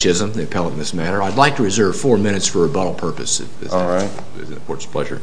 Chisholm, the appellate in this matter. I'd like to reserve four minutes for rebuttal purposes. Alright. It's an important pleasure.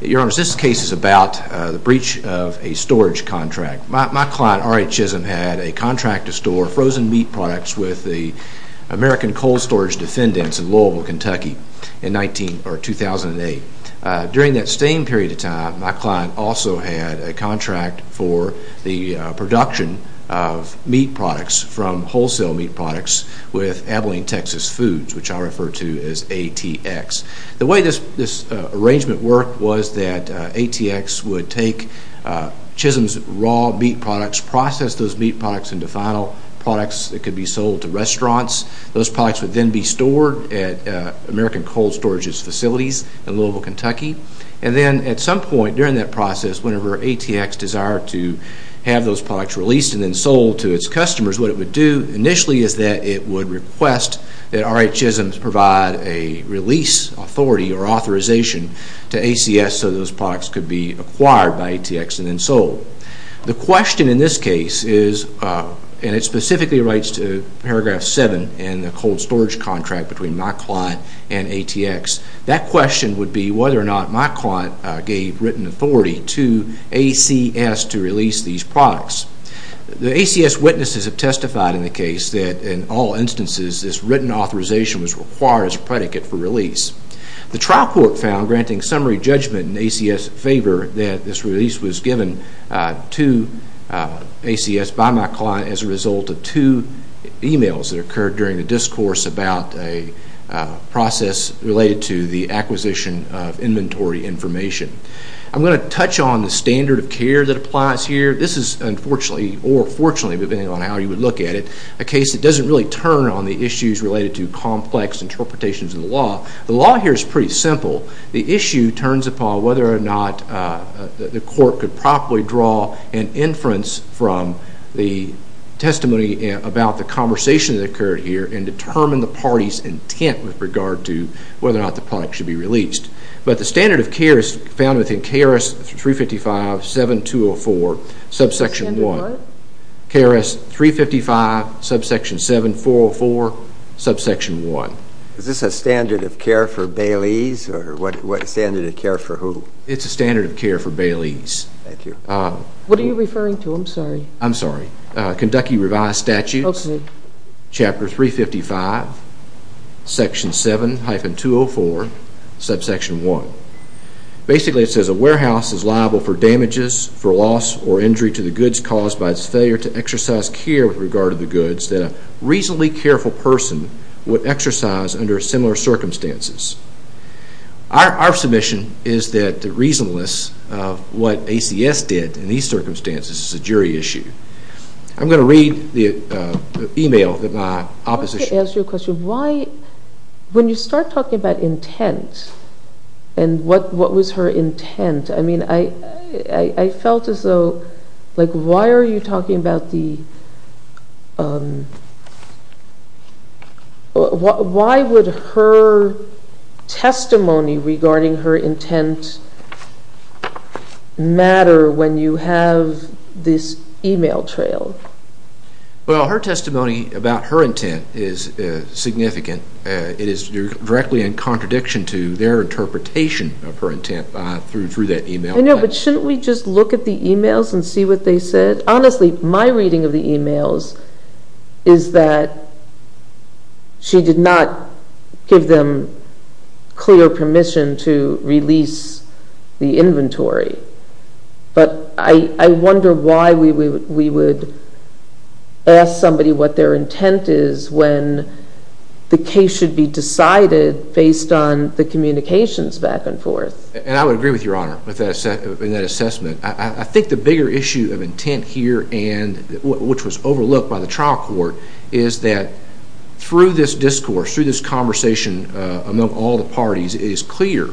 Your Honor, this case is about the breach of a storage contract. My client, R.A. Chisholm, had a contract to store frozen meat products with the American Cold Storage defendants in Louisville, Kentucky in 2008. During that same period of time, my client also had a production of meat products from wholesale meat products with Abilene Texas Foods, which I refer to as ATX. The way this arrangement worked was that ATX would take Chisholm's raw meat products, process those meat products into final products that could be sold to restaurants. Those products would then be stored at American Cold Storage's facilities in Louisville, Kentucky. And then at some point during that process, whenever ATX desired to have those products released and then sold to its customers, what it would do initially is that it would request that R.A. Chisholm provide a release authority or authorization to ACS so those products could be acquired by ATX and then sold. The question in this case is, and it specifically writes to paragraph seven in the cold storage contract between my client and ATX, that question would be whether or not my client gave written authority to ACS to release these products. The ACS witnesses have testified in the case that in all instances, this written authorization was required as a predicate for release. The trial court found, granting summary judgment in ACS' favor, that this release was given to ACS by my client as a result of two emails that occurred during the discourse about a the acquisition of inventory information. I'm going to touch on the standard of care that applies here. This is unfortunately or fortunately, depending on how you would look at it, a case that doesn't really turn on the issues related to complex interpretations of the law. The law here is pretty simple. The issue turns upon whether or not the court could properly draw an inference from the testimony about the conversation that occurred here and determine the party's intent with regard to whether or not the product should be released. But the standard of care is found within KRS 355, 7204, subsection 1. Standard what? KRS 355, subsection 7404, subsection 1. Is this a standard of care for Baileys or what standard of care for who? It's a standard of care for Baileys. Thank you. What are you referring to? I'm sorry. I'm sorry. Kentucky Revised Statutes, chapter 355, section 7-204, subsection 1. Basically it says a warehouse is liable for damages, for loss or injury to the goods caused by its failure to exercise care with regard to the goods that a reasonably careful person would exercise under similar circumstances. Our submission is that the reasonableness of what ACS did in these circumstances is a jury issue. I'm going to read the email that my opposition... I want to ask you a question. Why, when you start talking about intent and what was her intent, I mean I felt as though, like why are you talking about the, why would her testimony regarding her intent matter when you have this email trail? Well her testimony about her intent is significant. It is directly in contradiction to their interpretation of her intent through that email. I know, but shouldn't we just look at the emails and see what they said? Honestly, my reading of the emails is that she did not give them clear permission to do so. She did not give them clear permission to release the inventory. But I wonder why we would ask somebody what their intent is when the case should be decided based on the communications back and forth. And I would agree with Your Honor in that assessment. I think the bigger issue of intent here and which was overlooked by the trial court is that through this discourse, through this conversation among all the parties, it is clear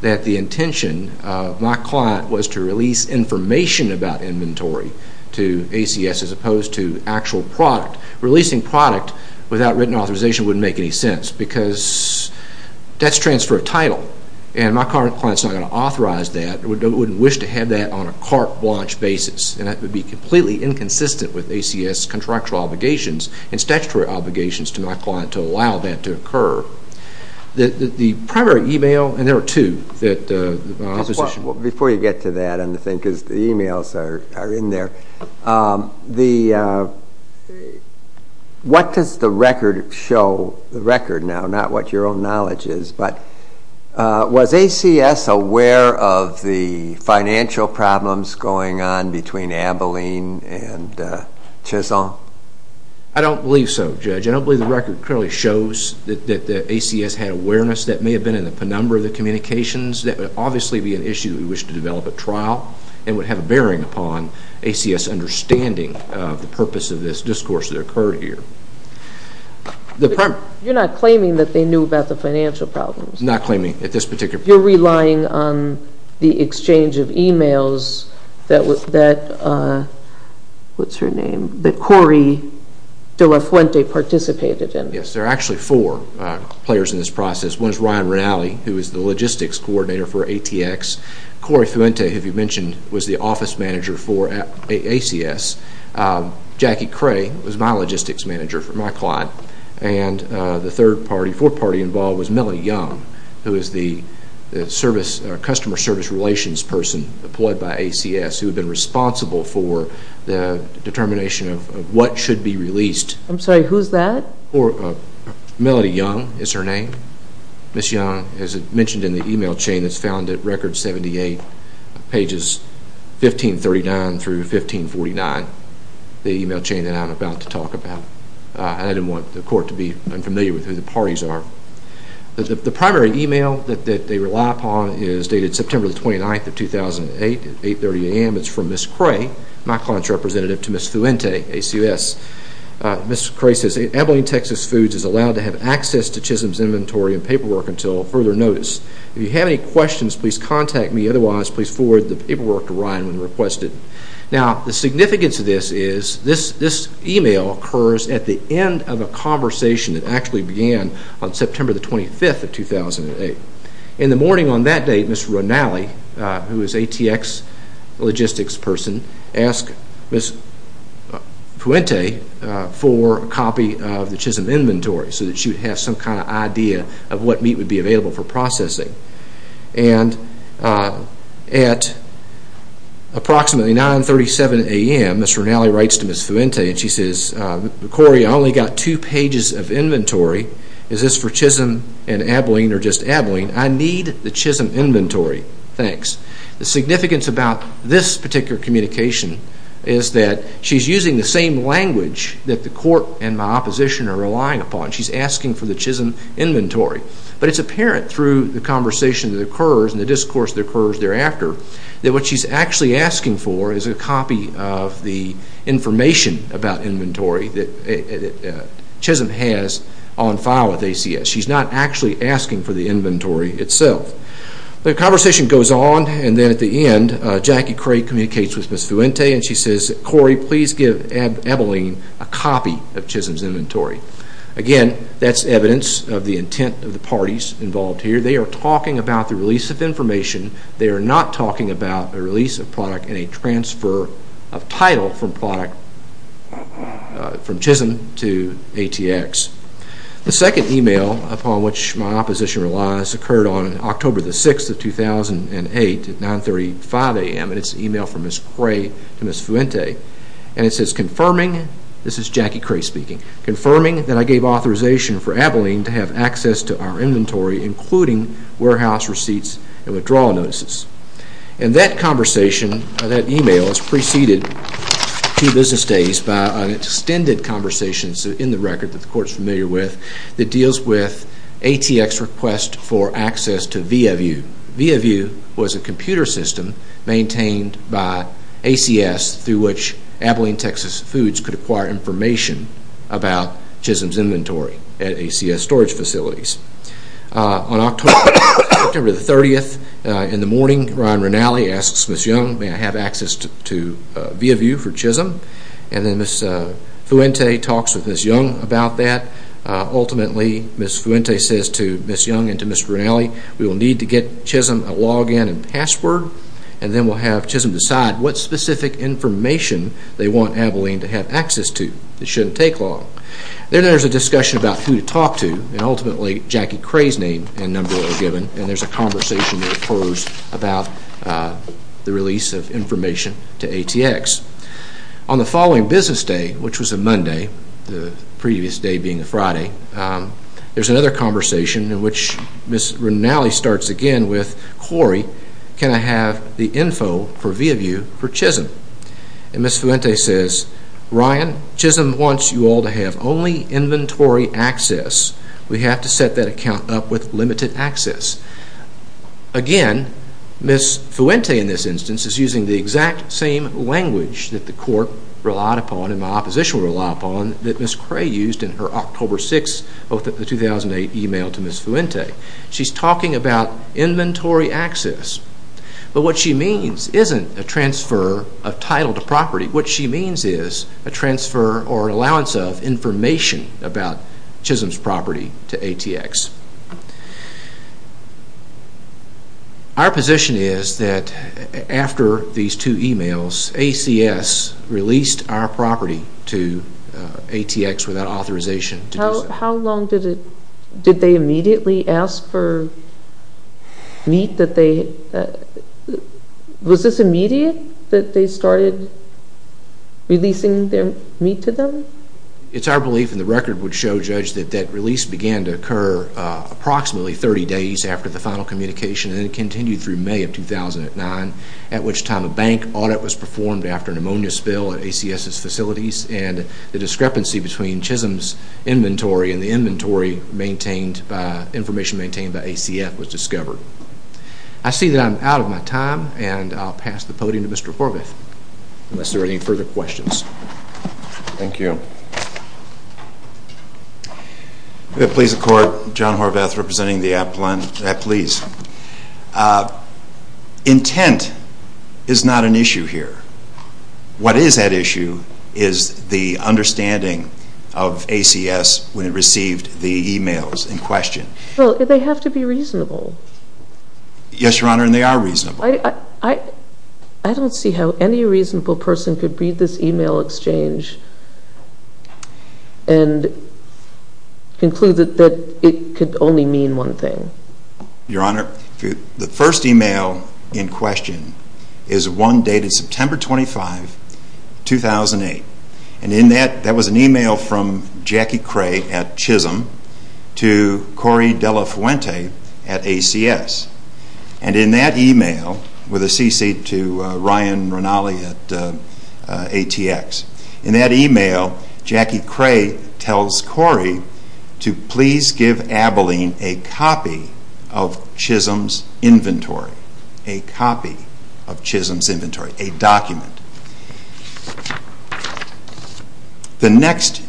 that the intention of my client was to release information about inventory to ACS as opposed to actual product. Releasing product without written authorization wouldn't make any sense because that's transfer of title and my current client is not going to authorize that or wouldn't wish to have that on a carte blanche basis and that would be completely inconsistent with ACS contractual obligations and statutory obligations to my client to allow that to occur. The primary email, and there are two, that the opposition... Before you get to that, because the emails are in there, what does the record show, the record now, not what your own knowledge is, but was ACS aware of the financial problems going on between Abilene and Chazon? I don't believe so, Judge. I don't believe the record clearly shows that ACS had awareness that may have been in the penumbra of the communications. That would obviously be an issue we wish to develop at trial and would have a bearing upon ACS understanding of the purpose of this discourse that occurred here. You're not claiming that they knew about the financial problems? Not claiming at this particular point. You're relying on the exchange of emails that, what's her name, that Corey De La Fuente participated in. Yes, there are actually four players in this process. One is Ryan Rinaldi, who is the logistics coordinator for ATX. Corey Fuente, who you mentioned, was the office manager for ACS. Jackie Cray was my logistics manager for my client. The third party, fourth party involved was Melody Young, who is the customer service relations person employed by ACS, who had been responsible for the determination of what should be released. I'm sorry, who's that? Melody Young is her name. Ms. Young, as mentioned in the email chain that's found at record 78, pages 1539 through 1549, the email chain that I'm about to talk about. I didn't want the court to be unfamiliar with who the parties are. The primary email that they rely upon is dated September 29, 2008, at 8.30 a.m. It's from Ms. Cray, my client's representative, to Ms. Fuente, ACS. Ms. Cray says, Abilene, Texas Foods is allowed to have access to Chisholm's inventory and paperwork until further notice. If you have any questions, please contact me. Otherwise, please forward the paperwork to Ryan when requested. Now, the significance of this is this email occurs at the end of a conversation that actually began on September 25, 2008. In the morning on that date, Ms. Ronali, who is ATX logistics person, asked Ms. Fuente for a copy of the Chisholm inventory so that she would have some kind of idea of what meat would be available for processing. At approximately 9.37 a.m., Ms. Ronali writes to Ms. Fuente and she says, Cory, I only got two pages of inventory. Is this for Chisholm and Abilene or just Abilene? I need the Chisholm inventory. Thanks. The significance about this particular communication is that she's using the same language that the court and my opposition are relying upon. She's asking for the Chisholm inventory. But it's apparent through the conversation that occurs and the discourse that occurs thereafter that what she's actually asking for is a copy of the information about inventory that Chisholm has on file with ACS. She's not actually asking for the inventory itself. The conversation goes on and then at the end, Jackie Craig communicates with Ms. Fuente and she says, Cory, please give Abilene a copy of Chisholm's inventory. Again, that's evidence of the intent of the parties involved here. They are talking about the release of information. They are not talking about the release of product and a transfer of title from Chisholm to ATX. The second email upon which my opposition relies occurred on October 6, 2008 at 9.35 a.m. and it's an email from Ms. Craig to Ms. Fuente. And it says, confirming, this is Jackie have access to our inventory including warehouse receipts and withdrawal notices. And that conversation, that email is preceded two business days by an extended conversation in the record that the court is familiar with that deals with ATX request for access to VIAVIEW. VIAVIEW was a computer system maintained by ACS through which Abilene Texas Foods could acquire information about Chisholm's inventory at ACS storage facilities. On October 30, in the morning, Ryan Rinali asks Ms. Young, may I have access to VIAVIEW for Chisholm? And then Ms. Fuente talks with Ms. Young about that. Ultimately, Ms. Fuente says to Ms. Young and to Mr. Rinali, we will need to get Chisholm a login and password and then we'll have Chisholm decide what specific information they want Abilene to have access to. It shouldn't take long. Then there's a discussion about who to talk to and ultimately Jackie Cray's name and number are given and there's a conversation that occurs about the release of information to ATX. On the following business day, which was a Monday, the previous day being a Friday, there's another conversation in which Ms. Rinali starts again with Corey, can I have the info for VIAVIEW for Chisholm? And Ms. Fuente says, Ryan, Chisholm wants you all to have only inventory access. We have to set that account up with limited access. Again, Ms. Fuente in this instance is using the exact same language that the court relied upon and my opposition relied upon that Ms. Cray used in her October 6, 2008 email to us. But what she means isn't a transfer of title to property, what she means is a transfer or allowance of information about Chisholm's property to ATX. Our position is that after these two emails, ACS released our property to ATX without authorization. How long did they immediately ask for meat that they, was this immediate that they started releasing their meat to them? It's our belief and the record would show, Judge, that that release began to occur approximately 30 days after the final communication and it continued through May of 2009, at which time a bank audit was performed after an ammonia spill at ACS' facilities and the discrepancy between Chisholm's inventory and the inventory maintained by, information maintained by ACF was discovered. I see that I'm out of my time and I'll pass the podium to Mr. Horvath unless there are any further questions. Thank you. Please, the court, John Horvath representing the Appalachian Police. Intent is not an issue here. What is at issue is the understanding of ACS when it received the emails in question. Well, they have to be reasonable. Yes, Your Honor, and they are reasonable. I don't see how any reasonable person could read this email exchange and conclude that it could only mean one thing. Your Honor, the first email in question is one dated September 25, 2008. And in that, that was an email from Jackie Cray at Chisholm to Corey Dela Fuente at ACS. And in that email, with a cc to Ryan Rinali at ATX, in that email, Jackie Cray tells Corey to please give Abilene a copy of Chisholm's inventory, a copy of Chisholm's inventory, a document. The next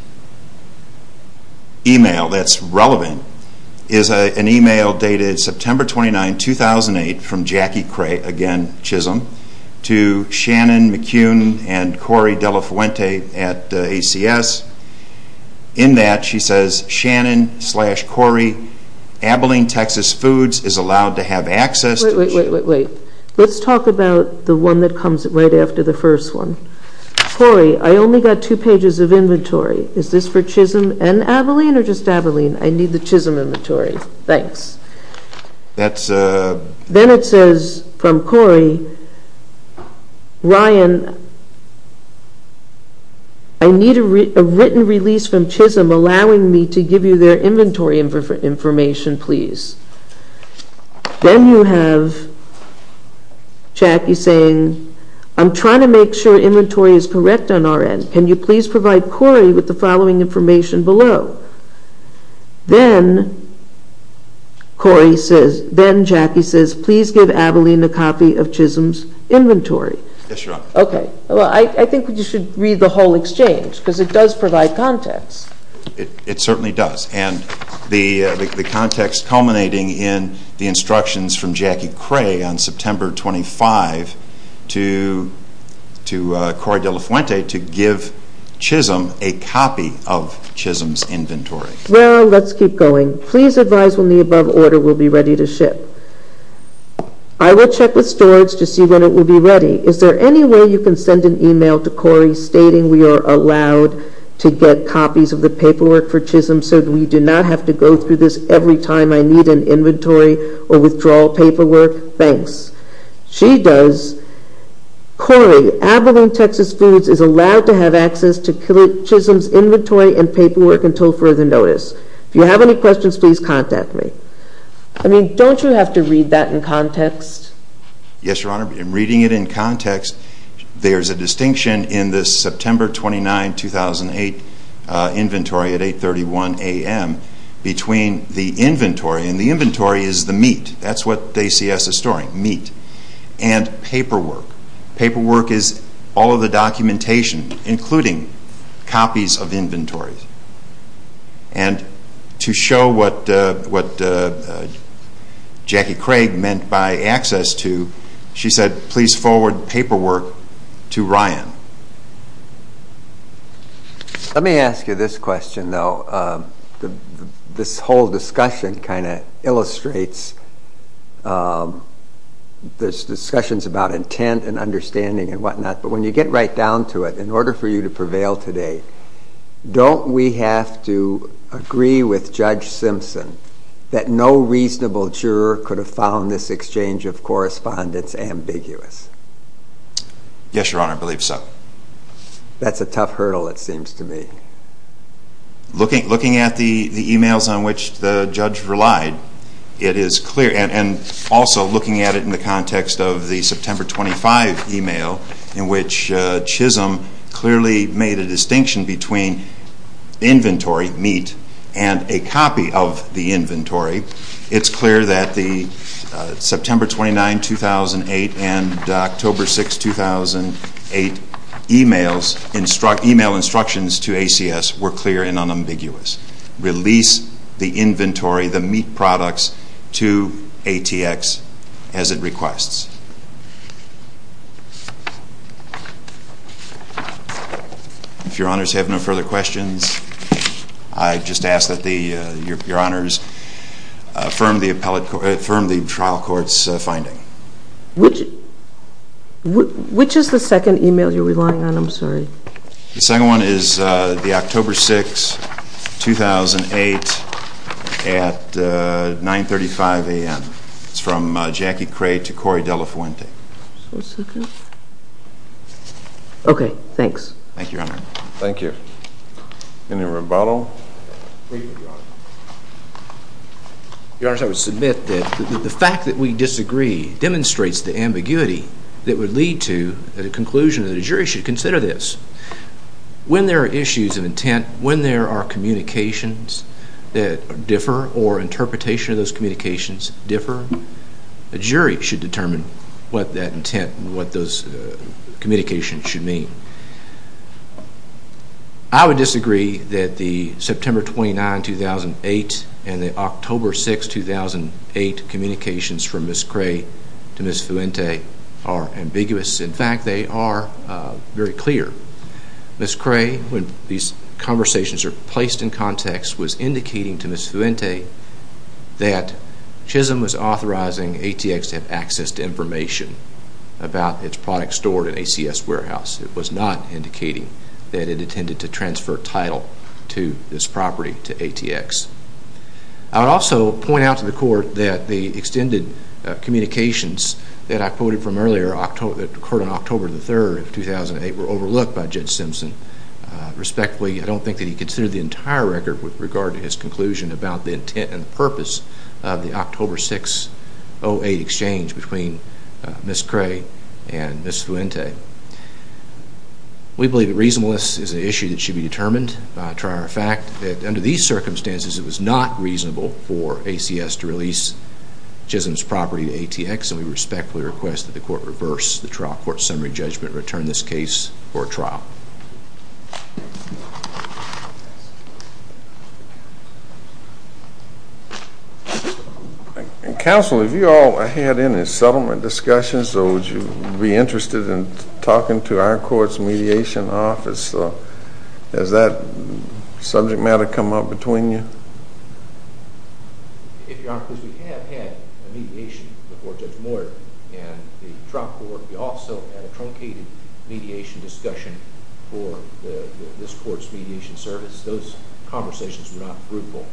email that's relevant is an email dated September 29, 2008 from Jackie Cray, again Chisholm, to Shannon McCune and Corey Dela Fuente at ACS. In that, she says, Shannon slash Corey, Abilene, Texas Foods is allowed to have access to... Wait, wait, wait. Let's talk about the one that comes right after the first one. Corey, I only got two pages of inventory. Is this for Chisholm and Abilene or just Abilene? I need the Chisholm inventory. Thanks. That's... Then it says from Corey, Ryan, I need a written release from Chisholm allowing me to give you their inventory information, please. Then you have Jackie saying, I'm trying to make sure inventory is correct on our end. Can you please provide Corey with the following information below? Then, Corey says, then Jackie says, please give Abilene a copy of Chisholm's inventory. Yes, Your Honor. Okay. Well, I think you should read the whole exchange because it does provide context. It certainly does and the context culminating in the instructions from Jackie Well, let's keep going. Please advise when the above order will be ready to ship. I will check with storage to see when it will be ready. Is there any way you can send an email to Corey stating we are allowed to get copies of the paperwork for Chisholm so that we do not have to go through this every time I need an inventory or withdrawal paperwork? Thanks. She does. Corey, Abilene, Texas Foods is allowed to have access to Chisholm's inventory and food until further notice. If you have any questions, please contact me. I mean, don't you have to read that in context? Yes, Your Honor. In reading it in context, there is a distinction in the September 29, 2008 inventory at 8.31 a.m. between the inventory, and the inventory is the meat. That's what ACS is storing, meat, and paperwork. Paperwork is all of the documentation, including copies of inventories. And to show what Jackie Craig meant by access to, she said, please forward paperwork to Ryan. Let me ask you this question though. This whole discussion kind of illustrates, this discussion is about intent and understanding and whatnot, but when you get right down to it, in order for you to prevail today, don't we have to agree with Judge Simpson that no reasonable juror could have found this exchange of correspondence ambiguous? Yes, Your Honor, I believe so. That's a tough hurdle it seems to me. Looking at the emails on which the judge relied, it is clear, and also looking at it in the context of the September 25 email, in which Chisholm clearly made a distinction between inventory, meat, and a copy of the inventory, it's clear that the September 29, 2008 and October 6, 2008 email instructions to ACS were clear and unambiguous. Release the inventory, the meat products, to ATX as it requests. If Your Honors have no further questions, I just ask that Your Honors affirm the trial court's finding. Which is the second email you're relying on? I'm sorry. The second one is the October 6, 2008 at 9.35 a.m. It's from Jackie Cray to Corey Dela Fuente. Okay, thanks. Thank you, Your Honor. Thank you. Any rebuttal? Your Honors, I would submit that the fact that we disagree demonstrates the ambiguity that would lead to a conclusion that a jury should consider this. When there are issues of intent, when there are communications that differ or interpretation of those communications differ, a jury should determine what that intent and what those communications should mean. I would disagree that the September 29, 2008 and the October 6, 2008 communications from Ms. Cray to Ms. Fuente are ambiguous. In fact, they are very clear. Ms. Cray, when these conversations are placed in context, was indicating to Ms. Fuente that Chisholm was authorizing ATX to have access to information about its products stored at ACS Warehouse. It was not indicating that it intended to transfer title to this property, to ATX. I would also point out to the Court that the extended communications that I quoted from earlier that occurred on October 3, 2008 were overlooked by Judge Simpson. Respectfully, I don't think that he considered the entire record with regard to his conclusion about the intent and purpose of the October 6, 2008 exchange between Ms. Cray and Ms. Fuente. We believe that reasonableness is an issue that should be determined by a trier of fact. Under these circumstances, it was not reasonable for ACS to release Chisholm's property to ATX. We respectfully request that the Court reverse the Court's summary judgment and return this case for trial. Counsel, have you all had any settlement discussions or would you be interested in talking to our court's mediation office? Has that subject matter come up between you? We have had mediation before Judge Moyer and the Trump Court. We also had a truncated mediation discussion for this Court's mediation service. Those conversations were not fruitful.